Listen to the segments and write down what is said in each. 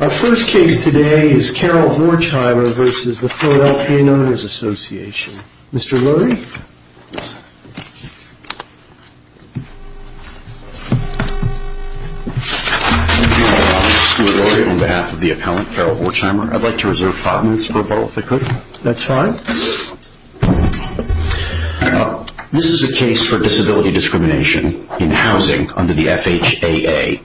Our first case today is Carol Vorchheimer v. The Philadelphia Owners Association. Mr. Lurie? Thank you, Mr. Lurie. On behalf of the appellant, Carol Vorchheimer, I'd like to reserve five minutes for rebuttal, if I could. That's fine. This is a case for disability discrimination in housing under the FHAA.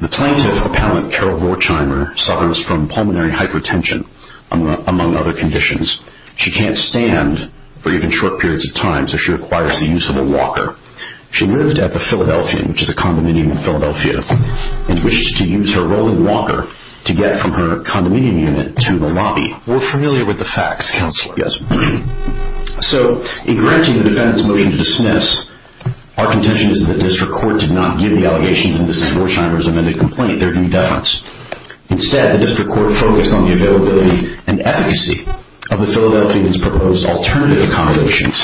The plaintiff, appellant Carol Vorchheimer, suffers from pulmonary hypertension, among other conditions. She can't stand for even short periods of time, so she requires the use of a walker. She lived at the Philadelphian, which is a condominium in Philadelphia, and wished to use her rolling walker to get from her condominium unit to the lobby. We're familiar with the facts, Counselor. Yes, we are. So, in granting the defendant's motion to dismiss, our contention is that the district court did not give the allegations in the St. Vorchheimer's amended complaint their due defense. Instead, the district court focused on the availability and efficacy of the Philadelphian's proposed alternative accommodations.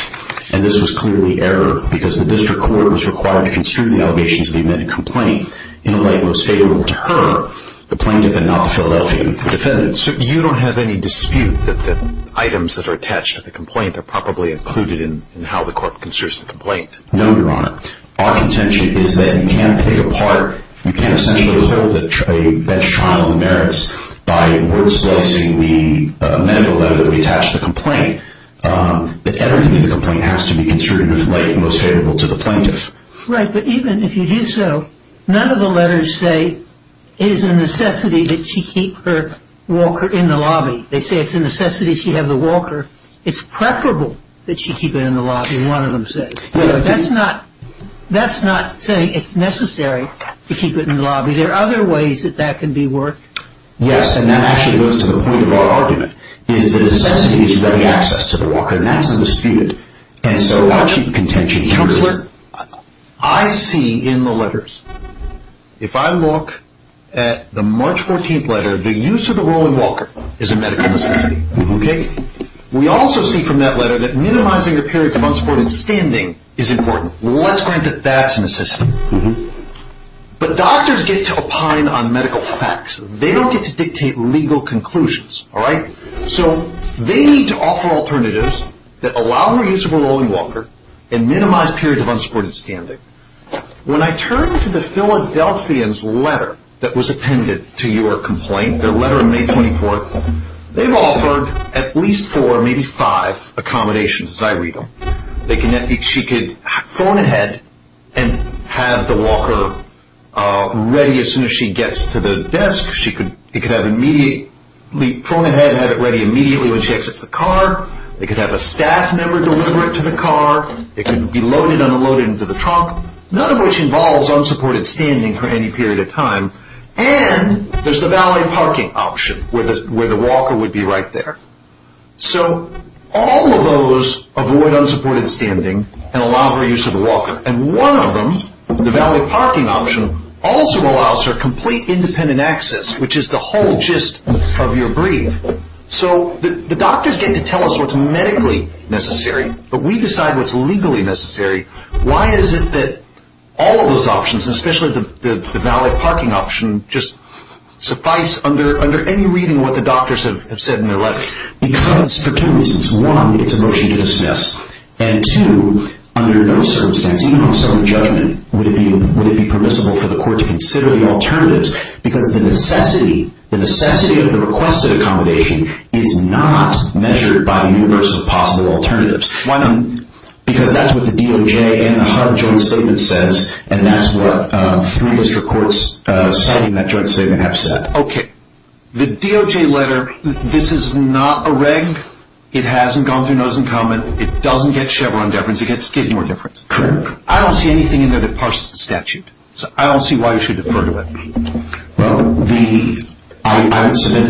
And this was clearly error, because the district court was required to construe the allegations of the amended complaint in a way that was favorable to her, the plaintiff, and not the Philadelphia defendant. So, you don't have any dispute that the items that are attached to the complaint are properly included in how the court construes the complaint? No, Your Honor. Our contention is that you can't take apart, you can't essentially withhold a trial of the merits by word-slicing the amended letter that we attached to the complaint. Everything in the complaint has to be construed in the most favorable way to the plaintiff. Right, but even if you do so, none of the letters say it is a necessity that she keep her walker in the lobby. They say it's a necessity she have the walker. It's preferable that she keep it in the lobby, one of them says. That's not saying it's necessary to keep it in the lobby. There are other ways that that can be worked. Yes, and that actually goes to the point of our argument, is the necessity is to get access to the walker, and that's undisputed. Counselor, I see in the letters, if I look at the March 14th letter, the use of the rolling walker is a medical necessity. We also see from that letter that minimizing the period of unsupported standing is important. Let's grant that that's a necessity. But doctors get to opine on medical facts. They don't get to dictate legal conclusions. So they need to offer alternatives that allow more use of a rolling walker and minimize periods of unsupported standing. When I turn to the Philadelphians' letter that was appended to your complaint, their letter on May 24th, they've offered at least four, maybe five accommodations as I read them. She could phone ahead and have the walker ready as soon as she gets to the desk. She could phone ahead and have it ready immediately when she exits the car. They could have a staff member deliver it to the car. It could be loaded and unloaded into the trunk, none of which involves unsupported standing for any period of time. And there's the valet parking option where the walker would be right there. So all of those avoid unsupported standing and allow for use of a walker. And one of them, the valet parking option, also allows for complete independent access, which is the whole gist of your brief. So the doctors get to tell us what's medically necessary, but we decide what's legally necessary. Why is it that all of those options, especially the valet parking option, just suffice under any reading of what the doctors have said in their letter? Because for two reasons. One, it's a motion to dismiss. And two, under those circumstances, even on self-judgment, would it be permissible for the court to consider the alternatives? Because the necessity of the requested accommodation is not measured by the universal possible alternatives. Why not? Because that's what the DOJ and the HUD joint statement says, and that's what three district courts citing that joint statement have said. Okay. The DOJ letter, this is not a reg. It hasn't gone through notice and comment. It doesn't get Chevron deference. It gets Skidmore deference. Correct. I don't see anything in there that parses the statute. So I don't see why you should defer to it. Well, I would submit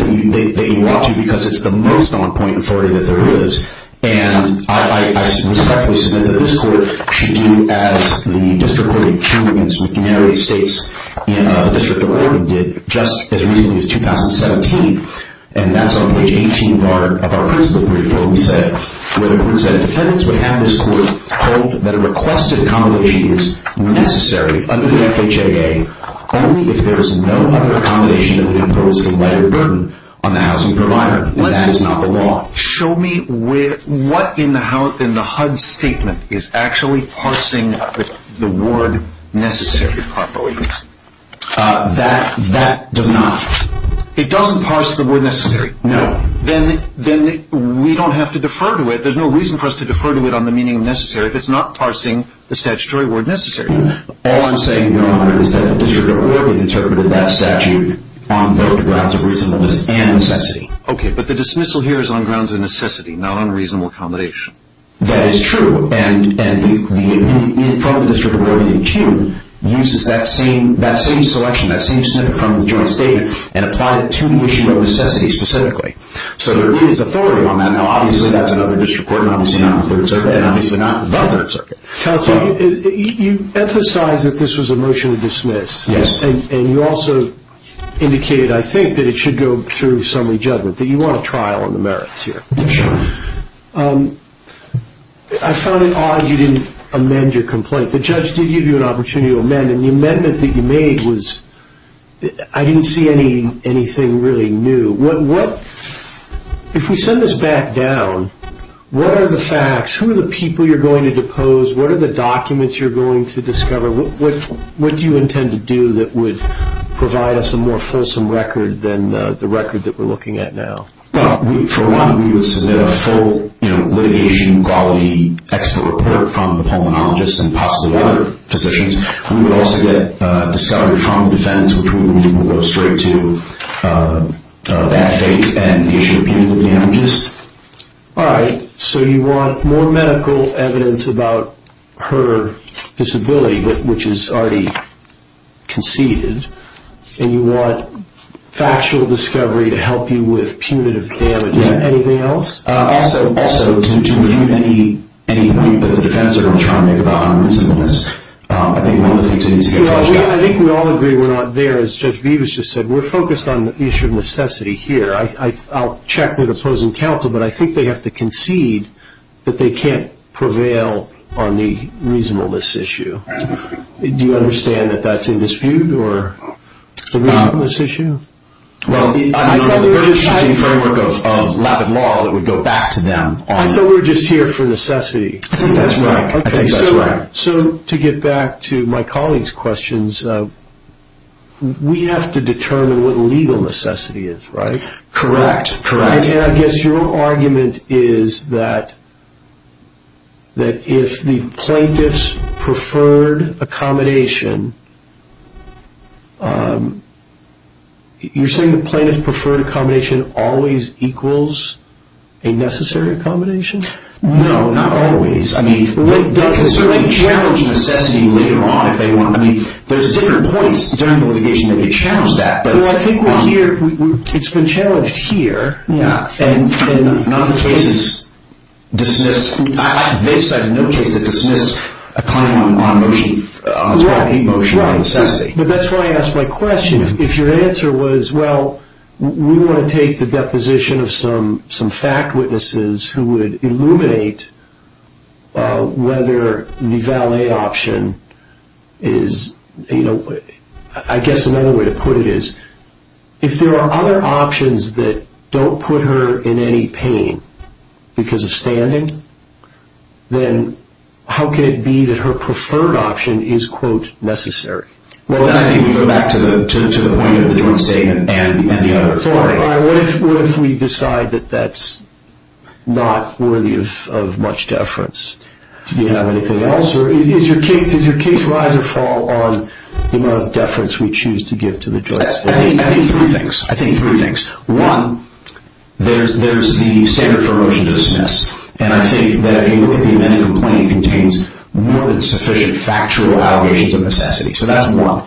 that you ought to because it's the most on-point authority that there is. And I respectfully submit that this court should do as the district court in Cumberland, and some of the other states in the district of Oregon did just as recently as 2017. And that's on page 18 of our principle brief where the court said, defendants would have this court hold that a requested accommodation is necessary under the FHAA only if there is no other accommodation that would impose a lighter burden on the housing provider. That is not the law. Show me what in the HUD statement is actually parsing the word necessary properly. That does not. It doesn't parse the word necessary. No. Then we don't have to defer to it. There's no reason for us to defer to it on the meaning of necessary if it's not parsing the statutory word necessary. All I'm saying, Your Honor, is that the district of Oregon interpreted that statute on both grounds of reasonableness and necessity. Okay, but the dismissal here is on grounds of necessity, not on reasonable accommodation. That is true. And the opinion from the district of Oregon in CUNY uses that same selection, that same snippet from the joint statement, and applied it to the issue of necessity specifically. So there is authority on that. Now, obviously, that's another district court, and obviously not the Third Circuit, and obviously not the Third Circuit. Counsel, you emphasized that this was a motion to dismiss. Yes. And you also indicated, I think, that it should go through summary judgment, that you want a trial on the merits here. Sure. I found it odd you didn't amend your complaint. The judge did give you an opportunity to amend, and the amendment that you made was – I didn't see anything really new. If we send this back down, what are the facts? Who are the people you're going to depose? What are the documents you're going to discover? What do you intend to do that would provide us a more fulsome record than the record that we're looking at now? Well, for one, we would submit a full litigation-quality expert report from the pulmonologist and possibly other physicians. We would also get discovery from the defendants, which we believe will go straight to that faith and the issue of punitive damages. All right. So you want more medical evidence about her disability, which is already conceded, and you want factual discovery to help you with punitive damages. Yeah. Anything else? Also, to remove any belief that the defendants are going to try to make about her disabilities. I think one of the things we need to get flushed out. I think we all agree we're not there. As Judge Beavis just said, we're focused on the issue of necessity here. I'll check with opposing counsel, but I think they have to concede that they can't prevail on the reasonableness issue. Do you understand that that's in dispute or the reasonableness issue? Well, I thought we were just here for necessity. That's right. I think that's right. So to get back to my colleague's questions, we have to determine what legal necessity is, right? Correct. And I guess your argument is that if the plaintiff's preferred accommodation, you're saying the plaintiff's preferred accommodation always equals a necessary accommodation? No, not always. I mean, they can certainly challenge necessity later on if they want. I mean, there's different points during the litigation that get challenged at. Well, I think it's been challenged here. Yeah. And none of the cases dismiss. I have no case that dismisses a claim on its right to be motioned on necessity. Right, right. But that's why I asked my question. If your answer was, well, we want to take the deposition of some fact witnesses who would illuminate whether the valet option is, you know, I guess another way to put it is, if there are other options that don't put her in any pain because of standing, then how can it be that her preferred option is, quote, necessary? Well, I think we go back to the point of the joint statement and the other. What if we decide that that's not worthy of much deference? Do you have anything else? Or does your case rise or fall on the amount of deference we choose to give to the joint statement? I think three things. I think three things. One, there's the standard for motion to dismiss. And I think that if you look at the amendment, the complaint contains more than sufficient factual allegations of necessity. So that's one.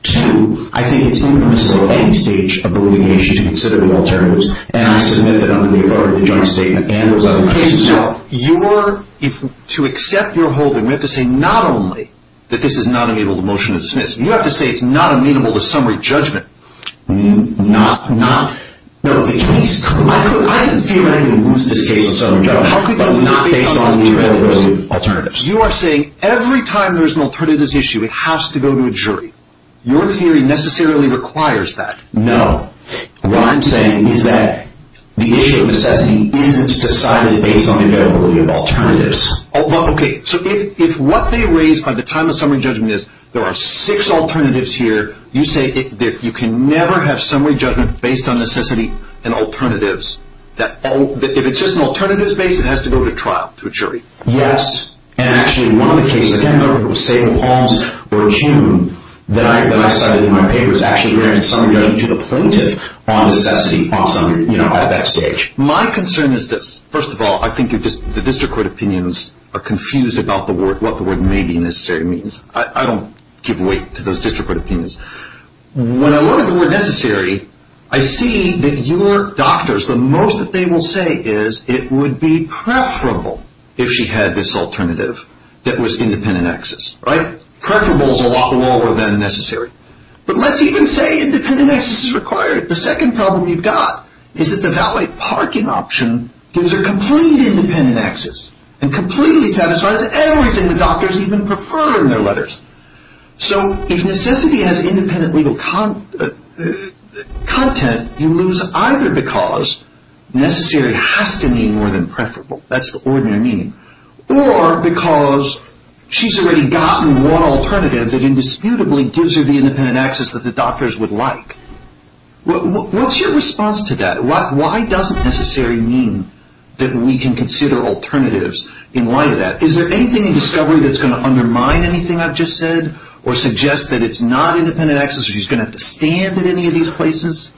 Two, I think it's impermissible at any stage of the litigation to consider the alternatives. And I submit that under the authority of the joint statement and those other cases. Okay. So to accept your holding, we have to say not only that this is not amenable to motion to dismiss, you have to say it's not amenable to summary judgment. Not, not. I didn't feel I could lose this case on summary judgment. How could you lose it based on the availability of alternatives? You are saying every time there's an alternatives issue, it has to go to a jury. Your theory necessarily requires that. No. What I'm saying is that the issue of necessity isn't decided based on the availability of alternatives. Okay. So if what they raise by the time of summary judgment is there are six alternatives here, you say you can never have summary judgment based on necessity and alternatives. If it's just an alternatives base, it has to go to trial, to a jury. Yes. And actually, one of the cases, again, I'm going to save the poems or a tune that I cited in my paper, is actually there in summary judgment to the plaintiff on necessity at that stage. My concern is this. First of all, I think the district court opinions are confused about what the word maybe necessary means. I don't give weight to those district court opinions. When I look at the word necessary, I see that your doctors, the most that they will say is it would be preferable if she had this alternative that was independent access. Right? Preferable is a lot lower than necessary. But let's even say independent access is required. The second problem you've got is that the valet parking option gives her complete independent access and completely satisfies everything the doctors even prefer in their letters. So if necessity has independent legal content, you lose either because necessary has to mean more than preferable. That's the ordinary meaning. Or because she's already gotten one alternative that indisputably gives her the independent access that the doctors would like. What's your response to that? Why doesn't necessary mean that we can consider alternatives in light of that? Is there anything in discovery that's going to undermine anything I've just said or suggest that it's not independent access or she's going to have to stand at any of these places?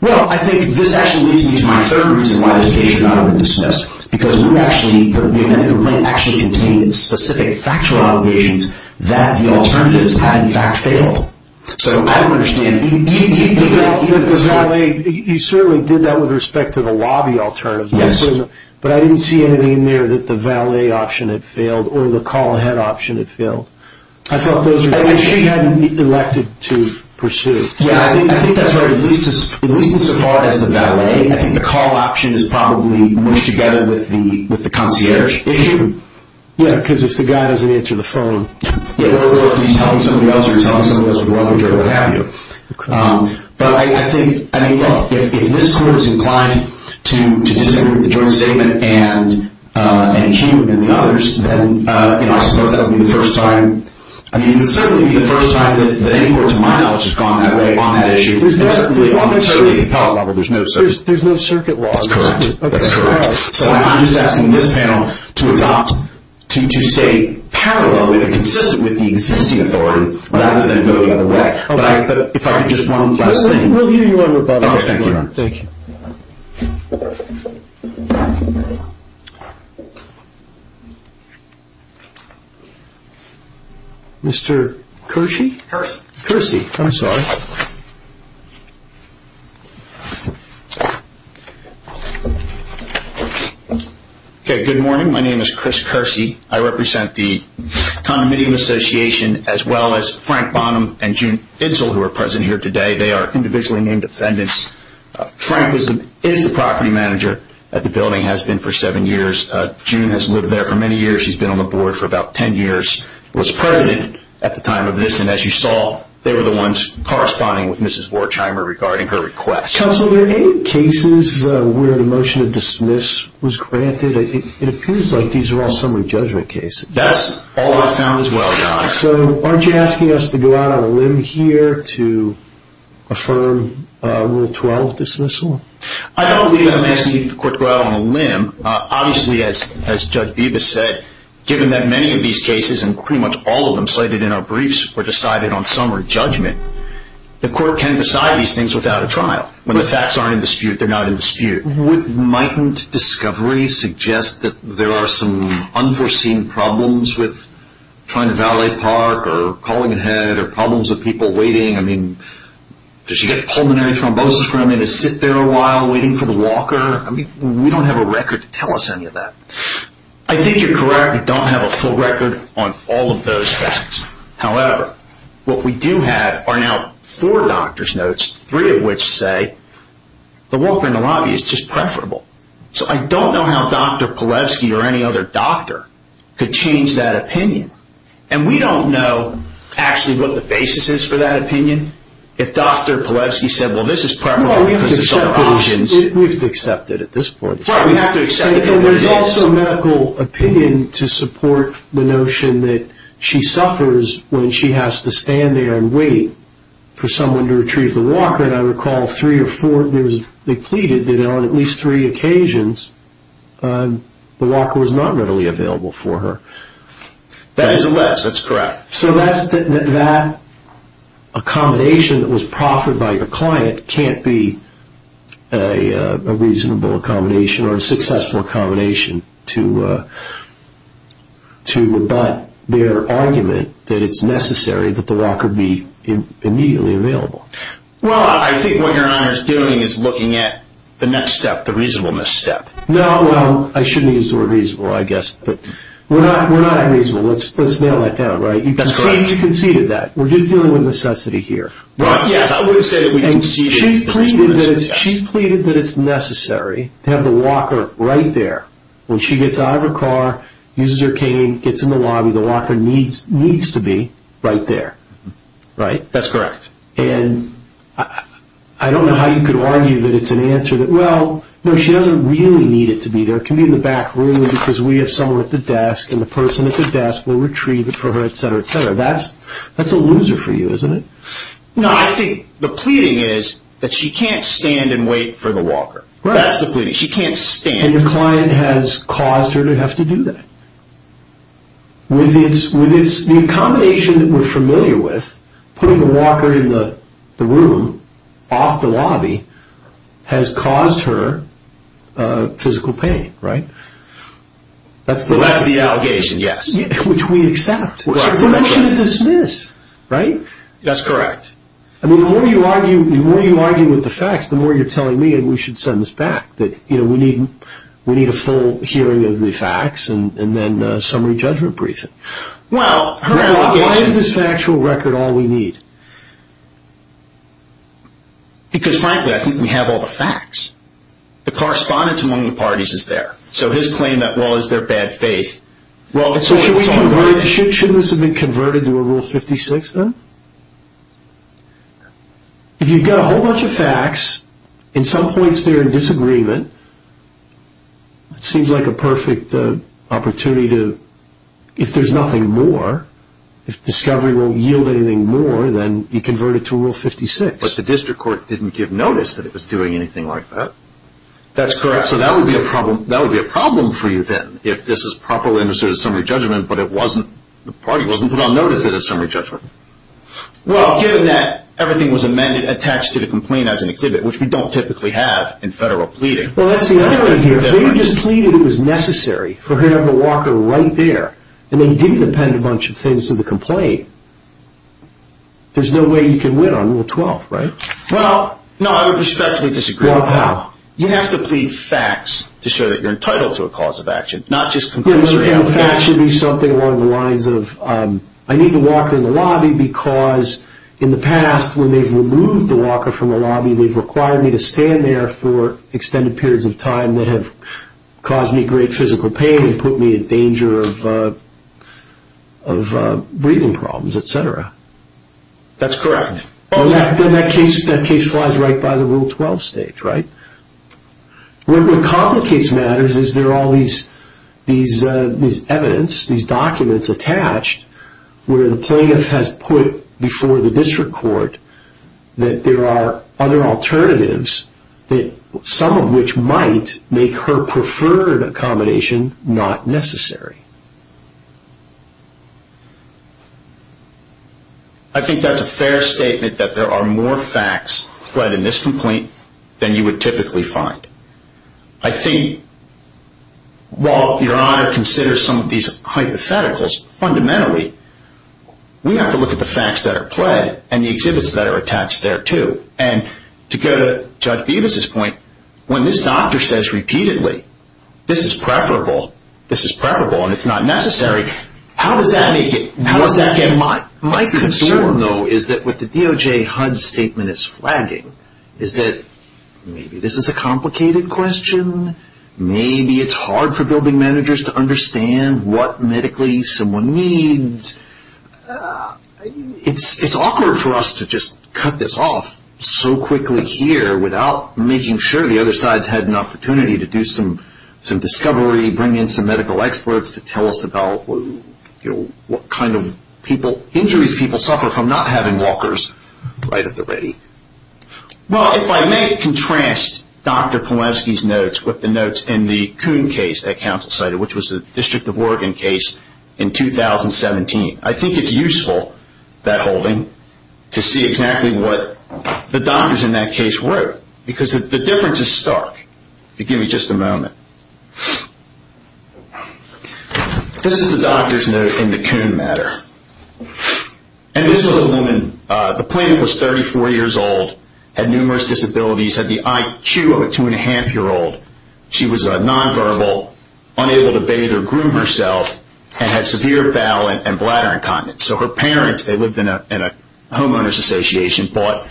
Well, I think this actually leads me to my third reason why the case should not have been dismissed. Because the independent complaint actually contained specific factual obligations that the alternatives had in fact failed. So I don't understand. You certainly did that with respect to the lobby alternative. Yes. But I didn't see anything in there that the valet option had failed or the call ahead option had failed. I felt those were things she hadn't elected to pursue. Yes. I think that's right. At least as far as the valet, I think the call option is probably mushed together with the concierge issue. Yes. Because if the guy doesn't answer the phone. Or if he's telling somebody else or he's telling somebody else with a rubber jerk or what have you. But I think if this court is inclined to disagree with the joint statement and he and the others, then I suppose that would be the first time. It would certainly be the first time that any court to my knowledge has gone that way on that issue. There's no circuit law. That's correct. That's correct. So I'm just asking this panel to adopt, to stay parallel, consistent with the existing authority rather than go the other way. If I could just one last thing. We'll hear you on rebuttal. Thank you. Mr. Kersey? Kersey. Kersey. I'm sorry. Good morning. My name is Chris Kersey. I represent the Condominium Association as well as Frank Bonham and June Idsel who are present here today. They are individually named defendants. Frank is the property manager at the building, has been for seven years. June has lived there for many years. She's been on the board for about ten years, was president at the time of this. And as you saw, they were the ones corresponding with Mrs. Vorcheimer regarding her request. Counsel, there are eight cases where the motion to dismiss was granted. It appears like these are all summary judgment cases. That's all I found as well, John. So aren't you asking us to go out on a limb here to affirm Rule 12 dismissal? I don't believe I'm asking the court to go out on a limb. Obviously, as Judge Bibas said, given that many of these cases and pretty much all of them slated in our briefs were decided on summary judgment, the court can decide these things without a trial. Would might discovery suggest that there are some unforeseen problems with trying to valet park or calling ahead or problems with people waiting? I mean, does she get pulmonary thrombosis for having to sit there a while waiting for the walker? I mean, we don't have a record to tell us any of that. I think you're correct. We don't have a full record on all of those facts. However, what we do have are now four doctor's notes, three of which say the walker in the lobby is just preferable. So I don't know how Dr. Polevsky or any other doctor could change that opinion. And we don't know actually what the basis is for that opinion. If Dr. Polevsky said, well, this is preferable because there's other options. We have to accept it at this point. There's also medical opinion to support the notion that she suffers when she has to stand there and wait for someone to retrieve the walker. And I recall three or four, they pleaded that on at least three occasions the walker was not readily available for her. That is alleged. That's correct. So that accommodation that was proffered by your client can't be a reasonable accommodation or a successful accommodation to rebut their argument that it's necessary that the walker be immediately available. Well, I think what your honor is doing is looking at the next step, the reasonableness step. No, well, I shouldn't use the word reasonable, I guess. But we're not unreasonable. Let's nail that down, right? That's correct. You conceded that. We're just dealing with necessity here. Well, yes, I would say that we conceded that. And she pleaded that it's necessary to have the walker right there. When she gets out of her car, uses her cane, gets in the lobby, the walker needs to be right there. Right. That's correct. And I don't know how you could argue that it's an answer that, well, no, she doesn't really need it to be there. It can be in the back room because we have someone at the desk and the person at the desk will retrieve it for her, etc., etc. That's a loser for you, isn't it? No, I think the pleading is that she can't stand and wait for the walker. Right. That's the pleading. She can't stand. And your client has caused her to have to do that. The combination that we're familiar with, putting the walker in the room, off the lobby, has caused her physical pain, right? Well, that's the allegation, yes. Which we accept. Right. It's a motion to dismiss, right? That's correct. I mean, the more you argue with the facts, the more you're telling me that we should send this back, that we need a full hearing of the facts and then a summary judgment briefing. Well, her allegation... Why is this factual record all we need? Because, frankly, I think we have all the facts. The correspondence among the parties is there. So his claim that, well, it's their bad faith... So shouldn't this have been converted to a Rule 56, then? If you've got a whole bunch of facts, in some points they're in disagreement, it seems like a perfect opportunity to, if there's nothing more, if discovery won't yield anything more, then you convert it to a Rule 56. But the district court didn't give notice that it was doing anything like that. That's correct. So that would be a problem for you, then, if this is properly understood as summary judgment, but the party wasn't put on notice that it's summary judgment. Well, given that everything was amended attached to the complaint as an exhibit, which we don't typically have in federal pleading... Well, that's the other way to hear it. If they just pleaded it was necessary for her to have the walker right there, and they didn't append a bunch of things to the complaint, there's no way you can win on Rule 12, right? Well, no, I would respectfully disagree with that. Well, how? You have to plead facts to show that you're entitled to a cause of action, not just conclusory allegations. Well, I think that facts should be something along the lines of, I need the walker in the lobby because, in the past, when they've removed the walker from the lobby, they've required me to stand there for extended periods of time that have caused me great physical pain and put me in danger of breathing problems, et cetera. That's correct. Then that case flies right by the Rule 12 stage, right? What complicates matters is there are all these evidence, these documents attached, where the plaintiff has put before the district court that there are other alternatives, some of which might make her preferred accommodation not necessary. I think that's a fair statement that there are more facts fled in this complaint than you would typically find. I think, while Your Honor considers some of these hypotheticals, fundamentally, we have to look at the facts that are pled and the exhibits that are attached there, too. And to go to Judge Bevis' point, when this doctor says repeatedly, this is preferable, this is preferable, and it's not necessary, how does that make it, how does that get mine? My concern, though, is that what the DOJ HUD statement is flagging is that maybe this is a complicated question, maybe it's hard for building managers to understand what medically someone needs. It's awkward for us to just cut this off so quickly here without making sure the other side's had an opportunity to do some discovery, bring in some medical experts to tell us about what kind of people, injuries people suffer from not having walkers right at the ready. Well, if I may contrast Dr. Polanski's notes with the notes in the Coon case that counsel cited, which was the District of Oregon case in 2017, I think it's useful, that holding, to see exactly what the doctors in that case wrote, because the difference is stark. If you give me just a moment. This is the doctor's note in the Coon matter. And this was a woman, the plaintiff was 34 years old, had numerous disabilities, had the IQ of a two-and-a-half-year-old. She was nonverbal, unable to bathe or groom herself, and had severe bowel and bladder incontinence. So her parents, they lived in a homeowner's association, bought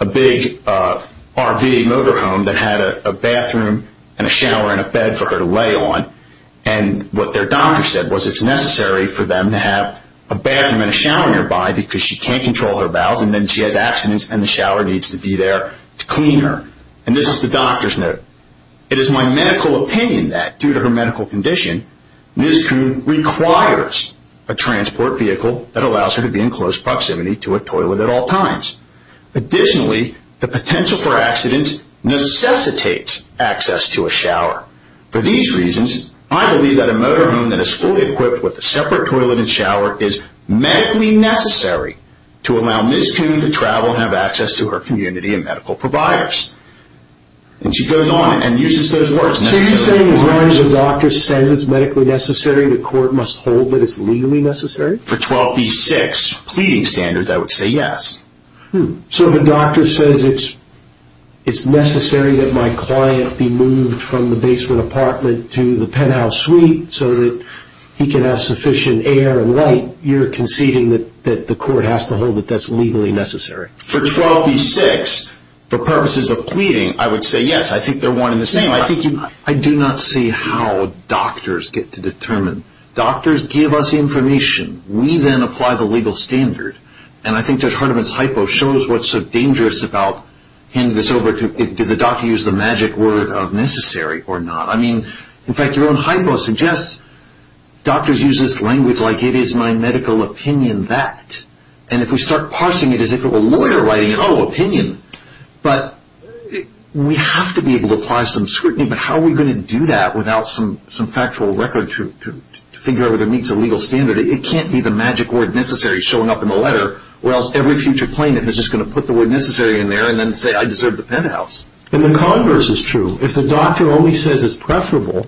a big RV motorhome that had a bathroom and a shower and a bed for her to lay on. And what their doctor said was it's necessary for them to have a bathroom and a shower nearby because she can't control her bowels, and then she has abstinence, and the shower needs to be there to clean her. And this is the doctor's note. It is my medical opinion that, due to her medical condition, Ms. Coon requires a transport vehicle that allows her to be in close proximity to a toilet at all times. Additionally, the potential for accidents necessitates access to a shower. For these reasons, I believe that a motorhome that is fully equipped with a separate toilet and shower is medically necessary to allow Ms. Coon to travel and have access to her community and medical providers. And she goes on and uses those words. So you're saying as long as the doctor says it's medically necessary, the court must hold that it's legally necessary? For 12b-6 pleading standards, I would say yes. So if a doctor says it's necessary that my client be moved from the basement apartment to the penthouse suite so that he can have sufficient air and light, you're conceding that the court has to hold that that's legally necessary? For 12b-6, for purposes of pleading, I would say yes. I think they're one and the same. I do not see how doctors get to determine. Doctors give us information. We then apply the legal standard. And I think Judge Hardiman's hypo shows what's so dangerous about handing this over to, did the doctor use the magic word of necessary or not? I mean, in fact, your own hypo suggests doctors use this language like, it is my medical opinion that. And if we start parsing it as if it were a lawyer writing it, oh, opinion. But we have to be able to apply some scrutiny, but how are we going to do that without some factual record to figure out whether it meets a legal standard? It can't be the magic word necessary showing up in the letter, or else every future plaintiff is just going to put the word necessary in there and then say I deserve the penthouse. And the converse is true. If the doctor only says it's preferable,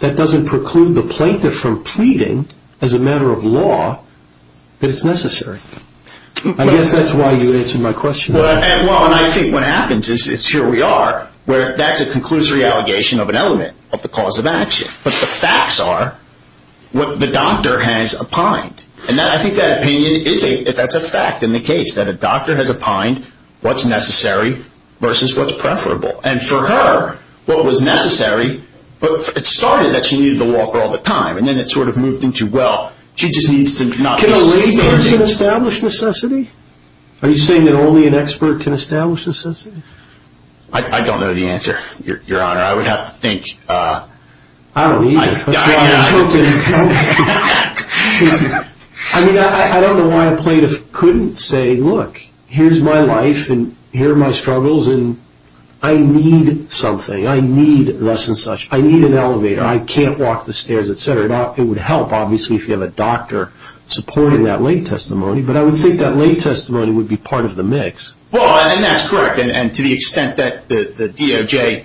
that doesn't preclude the plaintiff from pleading as a matter of law that it's necessary. I guess that's why you answered my question. Well, and I think what happens is here we are, where that's a conclusory allegation of an element of the cause of action. But the facts are what the doctor has opined. And I think that opinion is a fact in the case, that a doctor has opined what's necessary versus what's preferable. And for her, what was necessary, it started that she needed the walker all the time, and then it sort of moved into, well, she just needs to not be standing. Can a layperson establish necessity? Are you saying that only an expert can establish necessity? I don't know the answer, Your Honor. I would have to think. I don't either. I mean, I don't know why a plaintiff couldn't say, look, here's my life and here are my struggles, and I need something, I need thus and such. I need an elevator. I can't walk the stairs, et cetera. It would help, obviously, if you have a doctor supporting that lay testimony. But I would think that lay testimony would be part of the mix. Well, and that's correct. And to the extent that the DOJ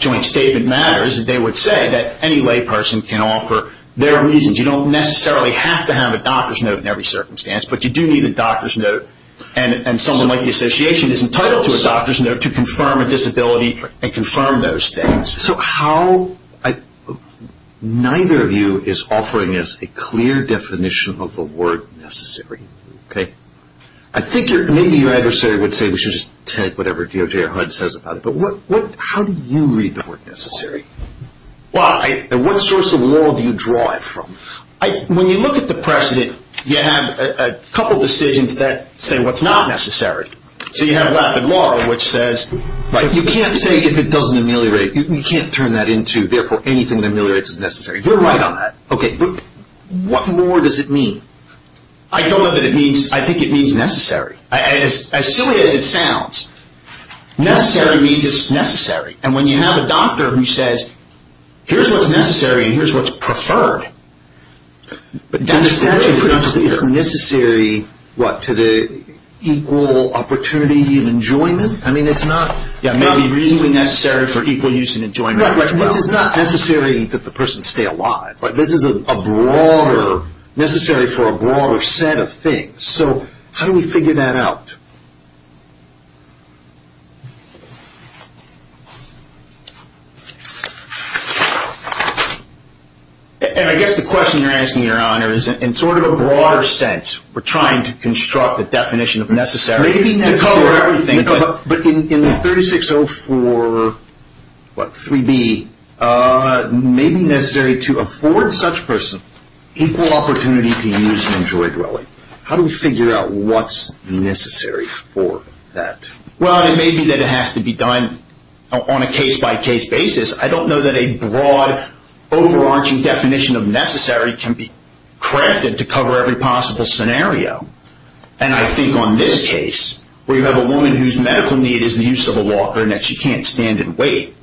joint statement matters, they would say that any layperson can offer their reasons. You don't necessarily have to have a doctor's note in every circumstance, but you do need a doctor's note. And someone like the Association is entitled to a doctor's note to confirm a disability and confirm those things. So how ñ neither of you is offering us a clear definition of the word necessary. I think maybe your adversary would say we should just take whatever DOJ or HUD says about it. But how do you read the word necessary? And what source of law do you draw it from? When you look at the precedent, you have a couple decisions that say what's not necessary. So you have rapid law, which says you can't say if it doesn't ameliorate. You can't turn that into, therefore, anything that ameliorates is necessary. You're right on that. Okay, but what more does it mean? I don't know that it means ñ I think it means necessary. As silly as it sounds, necessary means it's necessary. And when you have a doctor who says here's what's necessary and here's what's preferred, then the statute is not clear. It's necessary, what, to the equal opportunity of enjoyment? I mean, it's not maybe reasonably necessary for equal use and enjoyment. This is not necessary that the person stay alive. This is a broader necessary for a broader set of things. So how do we figure that out? And I guess the question you're asking, Your Honor, is in sort of a broader sense, we're trying to construct the definition of necessary to cover everything. But in the 3604, what, 3B, may be necessary to afford such person equal opportunity to use and enjoy dwelling. How do we figure out what's necessary for that? Well, it may be that it has to be done on a case-by-case basis. I don't know that a broad, overarching definition of necessary can be crafted to cover every possible scenario. And I think on this case, where you have a woman whose medical need is the use of a walker, and that she can't stand and wait,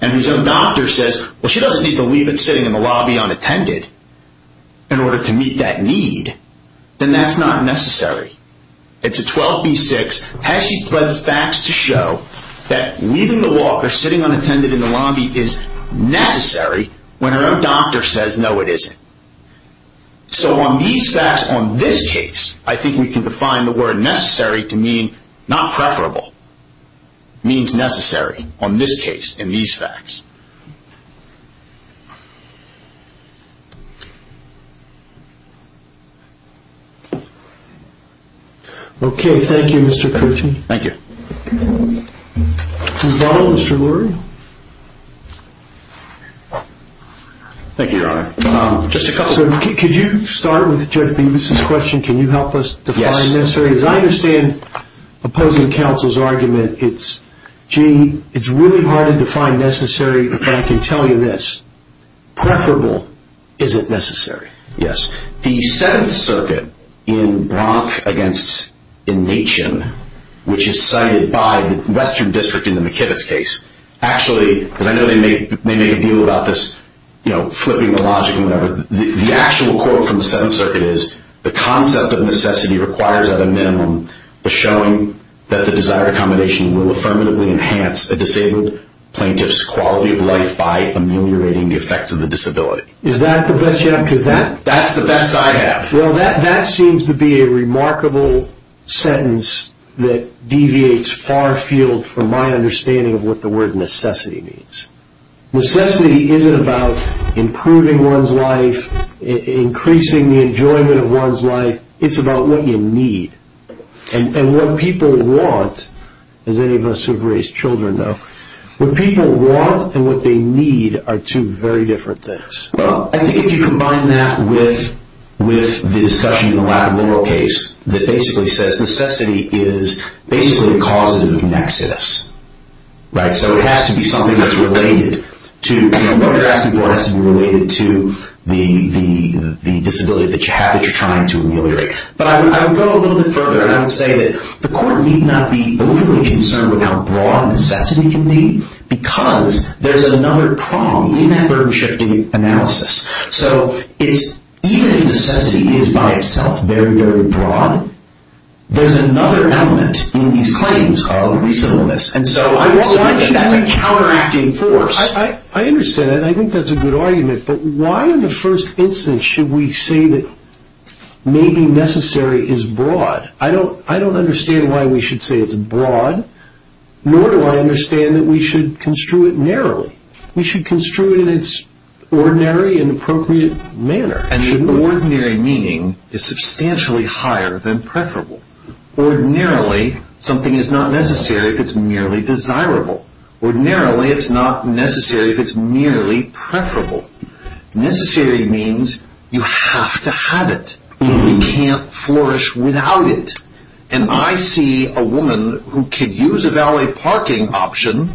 and whose own doctor says, well, she doesn't need to leave it sitting in the lobby unattended in order to meet that need, then that's not necessary. It's a 12B-6. Has she bred facts to show that leaving the walker sitting unattended in the lobby is necessary when her own doctor says, no, it isn't? So on these facts, on this case, I think we can define the word necessary to mean not preferable. It means necessary on this case, in these facts. Okay, thank you, Mr. Coochie. Thank you. Mr. Lurie? Thank you, Your Honor. Could you start with Judge Beavis' question, can you help us define necessary? Yes. As I understand opposing counsel's argument, it's, gee, it's really hard to define necessary, but I can tell you this, preferable isn't necessary. Yes. The Seventh Circuit in Bronk v. Nation, which is cited by the Western District in the McKibbis case, actually, because I know they make a deal about this, you know, flipping the logic and whatever, the actual quote from the Seventh Circuit is, the concept of necessity requires at a minimum the showing that the desired accommodation will affirmatively enhance a disabled plaintiff's quality of life by ameliorating the effects of the disability. Is that the best you have? That's the best I have. Well, that seems to be a remarkable sentence that deviates far field from my understanding of what the word necessity means. Necessity isn't about improving one's life, increasing the enjoyment of one's life. It's about what you need. And what people want, as any of us who have raised children know, what people want and what they need are two very different things. Well, I think if you combine that with the discussion in the Latin liberal case, that basically says necessity is basically a causative nexus. Right? So it has to be something that's related to, you know, what you're asking for has to be related to the disability that you have that you're trying to ameliorate. But I would go a little bit further, and I would say that the court need not be overly concerned with how broad necessity can be because there's another prong in that burden-shifting analysis. So even if necessity is by itself very, very broad, there's another element in these claims of reasonableness. And so I would say that that's a counteracting force. I understand that, and I think that's a good argument. But why in the first instance should we say that maybe necessary is broad? I don't understand why we should say it's broad, nor do I understand that we should construe it narrowly. We should construe it in its ordinary and appropriate manner. And the ordinary meaning is substantially higher than preferable. Ordinarily, something is not necessary if it's merely desirable. Ordinarily, it's not necessary if it's merely preferable. Necessary means you have to have it. You can't flourish without it. And I see a woman who could use a valet parking option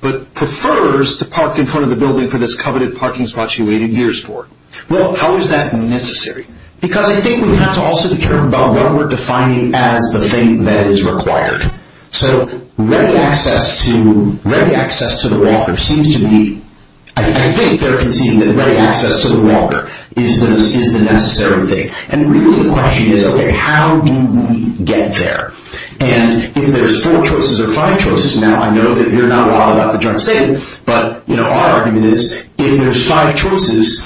but prefers to park in front of the building for this coveted parking spot she waited years for. Well, how is that necessary? Because I think we have to also be careful about what we're defining as the thing that is required. So ready access to the water seems to be— I think they're conceding that ready access to the water is the necessary thing. And really the question is, okay, how do we get there? And if there's four choices or five choices— now, I know that you're not wild about the joint statement, but our argument is if there's five choices,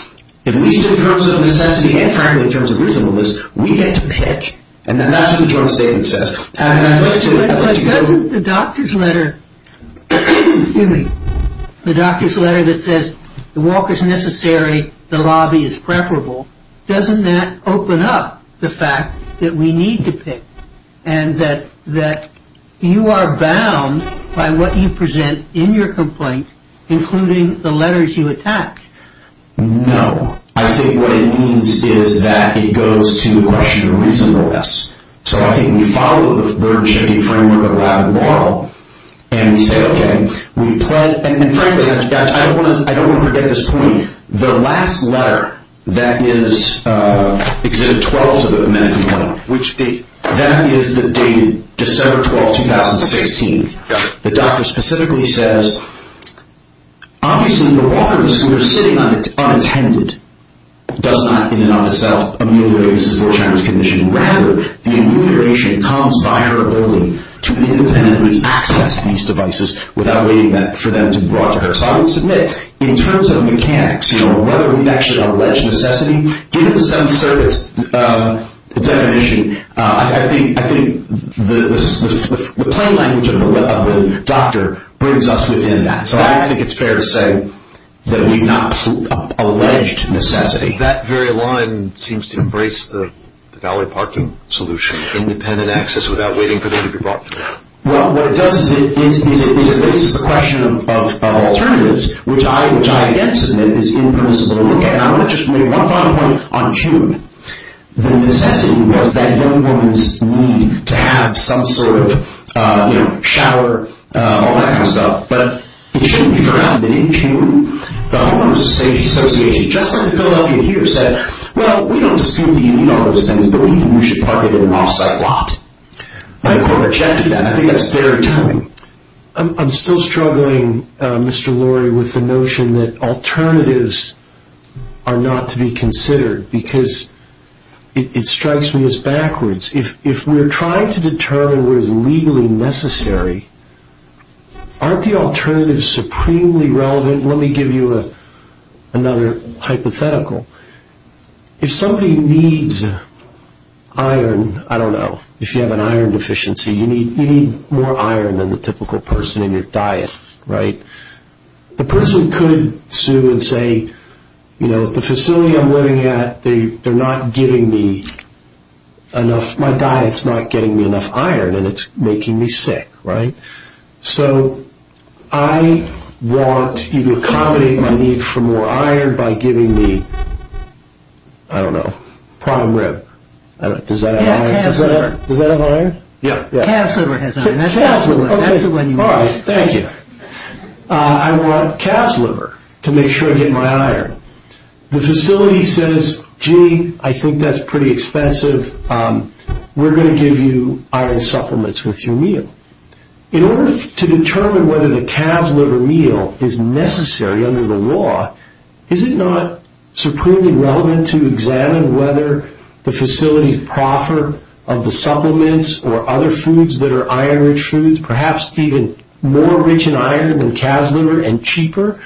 at least in terms of necessity and, frankly, in terms of reasonableness, we get to pick, and then that's what the joint statement says. But doesn't the doctor's letter— excuse me— the doctor's letter that says the walk is necessary, the lobby is preferable, doesn't that open up the fact that we need to pick and that you are bound by what you present in your complaint, including the letters you attach? No. I think what it means is that it goes to the question of reasonableness. So I think we follow the bird-shaking framework of a lab moral, and we say, okay, we've pled— and, frankly, I don't want to forget this point. The last letter that is— Exhibit 12 of the amendment complaint, that is the date December 12, 2016. The doctor specifically says, obviously the walkers who are sitting unattended does not in and of itself ameliorate the support challenge condition. Rather, the amelioration comes by her only to independently access these devices without waiting for them to be brought to her. So I would submit, in terms of mechanics, whether we've actually alleged necessity, given the Seventh Service definition, I think the plain language of the doctor brings us within that. So I think it's fair to say that we've not alleged necessity. That very line seems to embrace the valet parking solution, independent access without waiting for them to be brought to her. Well, what it does is it raises the question of alternatives, which I, again, submit is impermissible to look at. And I want to just make one final point on June. The necessity was that young woman's need to have some sort of, you know, shower, all that kind of stuff. But it shouldn't be forgotten that in June, the Homeowners Safety Association, just like in Philadelphia here, said, well, we don't dispute that you need all those things, but we think you should park it in an off-site lot. I think that's fair telling. I'm still struggling, Mr. Lurie, with the notion that alternatives are not to be considered, because it strikes me as backwards. If we're trying to determine what is legally necessary, aren't the alternatives supremely relevant? Let me give you another hypothetical. If somebody needs iron, I don't know, if you have an iron deficiency, you need more iron than the typical person in your diet, right? The person could sue and say, you know, the facility I'm living at, they're not giving me enough, my diet's not getting me enough iron, and it's making me sick, right? So I want you to accommodate my need for more iron by giving me, I don't know, prime rib. Does that have iron? Does that have iron? Yeah. Calf's liver has iron. That's the one you want. All right, thank you. I want calf's liver to make sure I get my iron. The facility says, gee, I think that's pretty expensive. We're going to give you iron supplements with your meal. In order to determine whether the calf's liver meal is necessary under the law, is it not supremely relevant to examine whether the facility's proffer of the supplements or other foods that are iron-rich foods, perhaps even more rich in iron than calf's liver and cheaper,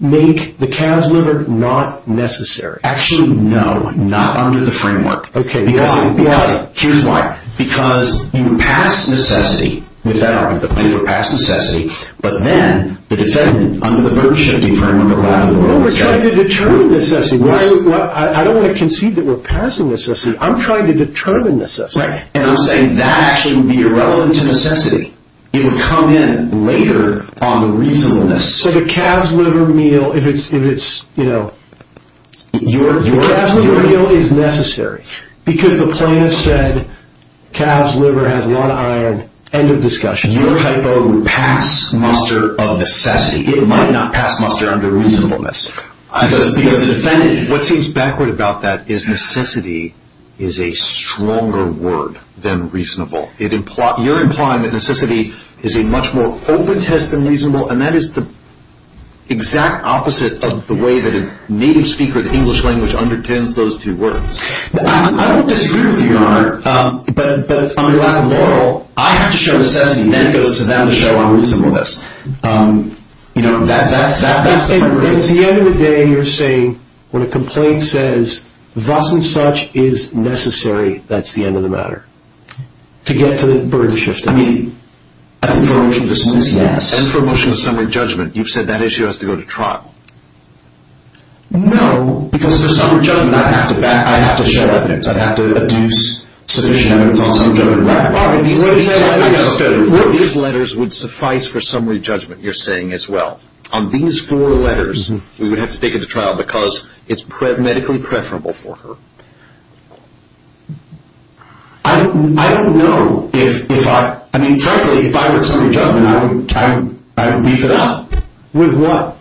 make the calf's liver not necessary? Actually, no, not under the framework. Okay, why? Here's why. Because you would pass necessity with that argument, the plaintiff would pass necessity, but then the defendant, under the burden-shifting framework, would allow it. Well, we're trying to determine necessity. I don't want to concede that we're passing necessity. I'm trying to determine necessity. And I'm saying that actually would be irrelevant to necessity. It would come in later on the reasonableness. So the calf's liver meal, if it's, you know... The calf's liver meal is necessary because the plaintiff said calf's liver has a lot of iron. End of discussion. Your hypo would pass muster of necessity. It might not pass muster under reasonableness because the defendant, what seems backward about that, is necessity is a stronger word than reasonable. You're implying that necessity is a much more open test than reasonable, and that is the exact opposite of the way that a native speaker of the English language underpins those two words. I don't disagree with you, Your Honor, but on your lack of moral, I have to show necessity, then it goes to them to show unreasonableness. You know, that's the... At the end of the day, you're saying when a complaint says, thus and such is necessary, that's the end of the matter, to get to the burden of shifting. I mean, I think... And for a motion of summary judgment, you've said that issue has to go to trial. No. Because for summary judgment, I have to show evidence. I have to adduce sufficient evidence on summary judgment. These letters would suffice for summary judgment, you're saying, as well. On these four letters, we would have to take it to trial because it's medically preferable for her. I don't know if I... I mean, frankly, if I were in summary judgment, I would beef it up. With what?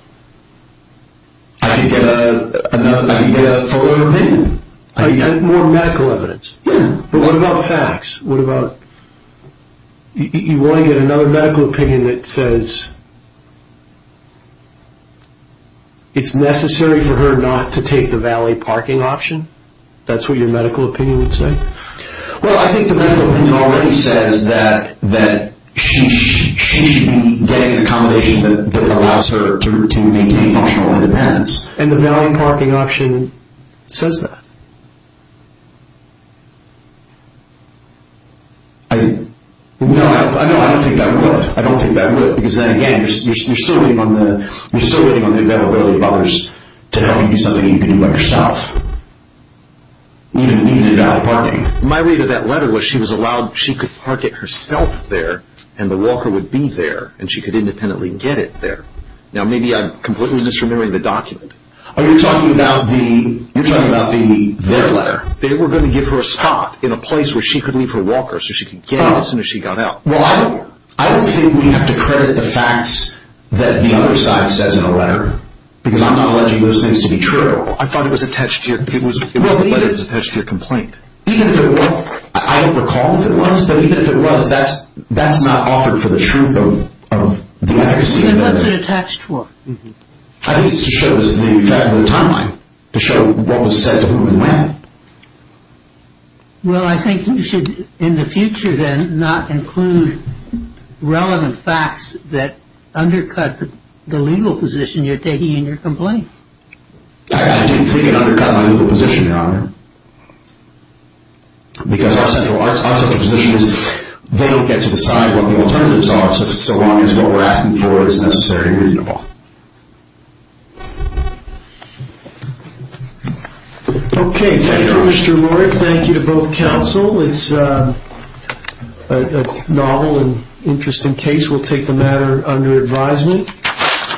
I could get a fuller opinion. I could get more medical evidence. Yeah, but what about facts? What about... You want to get another medical opinion that says... it's necessary for her not to take the valet parking option? That's what your medical opinion would say? Well, I think the medical opinion already says that she should be getting an accommodation that allows her to maintain functional independence. And the valet parking option says that. I... No, I don't think that would. I don't think that would, because then again, you're still waiting on the availability of others to help you do something that you can do by yourself. Even in valet parking. My read of that letter was she was allowed... she could park it herself there, and the walker would be there, and she could independently get it there. Now, maybe I'm completely misremembering the document. Are you talking about the... You're talking about the... Their letter. They were going to give her a spot in a place where she could leave her walker so she could get it as soon as she got out. Well, I don't think we have to credit the facts that the other side says in the letter, because I'm not alleging those things to be true. I thought it was attached to your... It was the letter that was attached to your complaint. Even if it was... I don't recall if it was, but even if it was, that's not offered for the truth of the accuracy of the letter. Then what's it attached for? I think it's to show us the fact of the timeline. To show what was said to whom and when. Well, I think you should, in the future then, not include relevant facts that undercut the legal position you're taking in your complaint. I don't think it undercut my legal position, Your Honor. Because our central position is they don't get to decide what the alternatives are so long as what we're asking for is necessary and reasonable. Okay. Thank you, Mr. Lloyd. Thank you to both counsel. It's a novel and interesting case. We'll take the matter under advisement.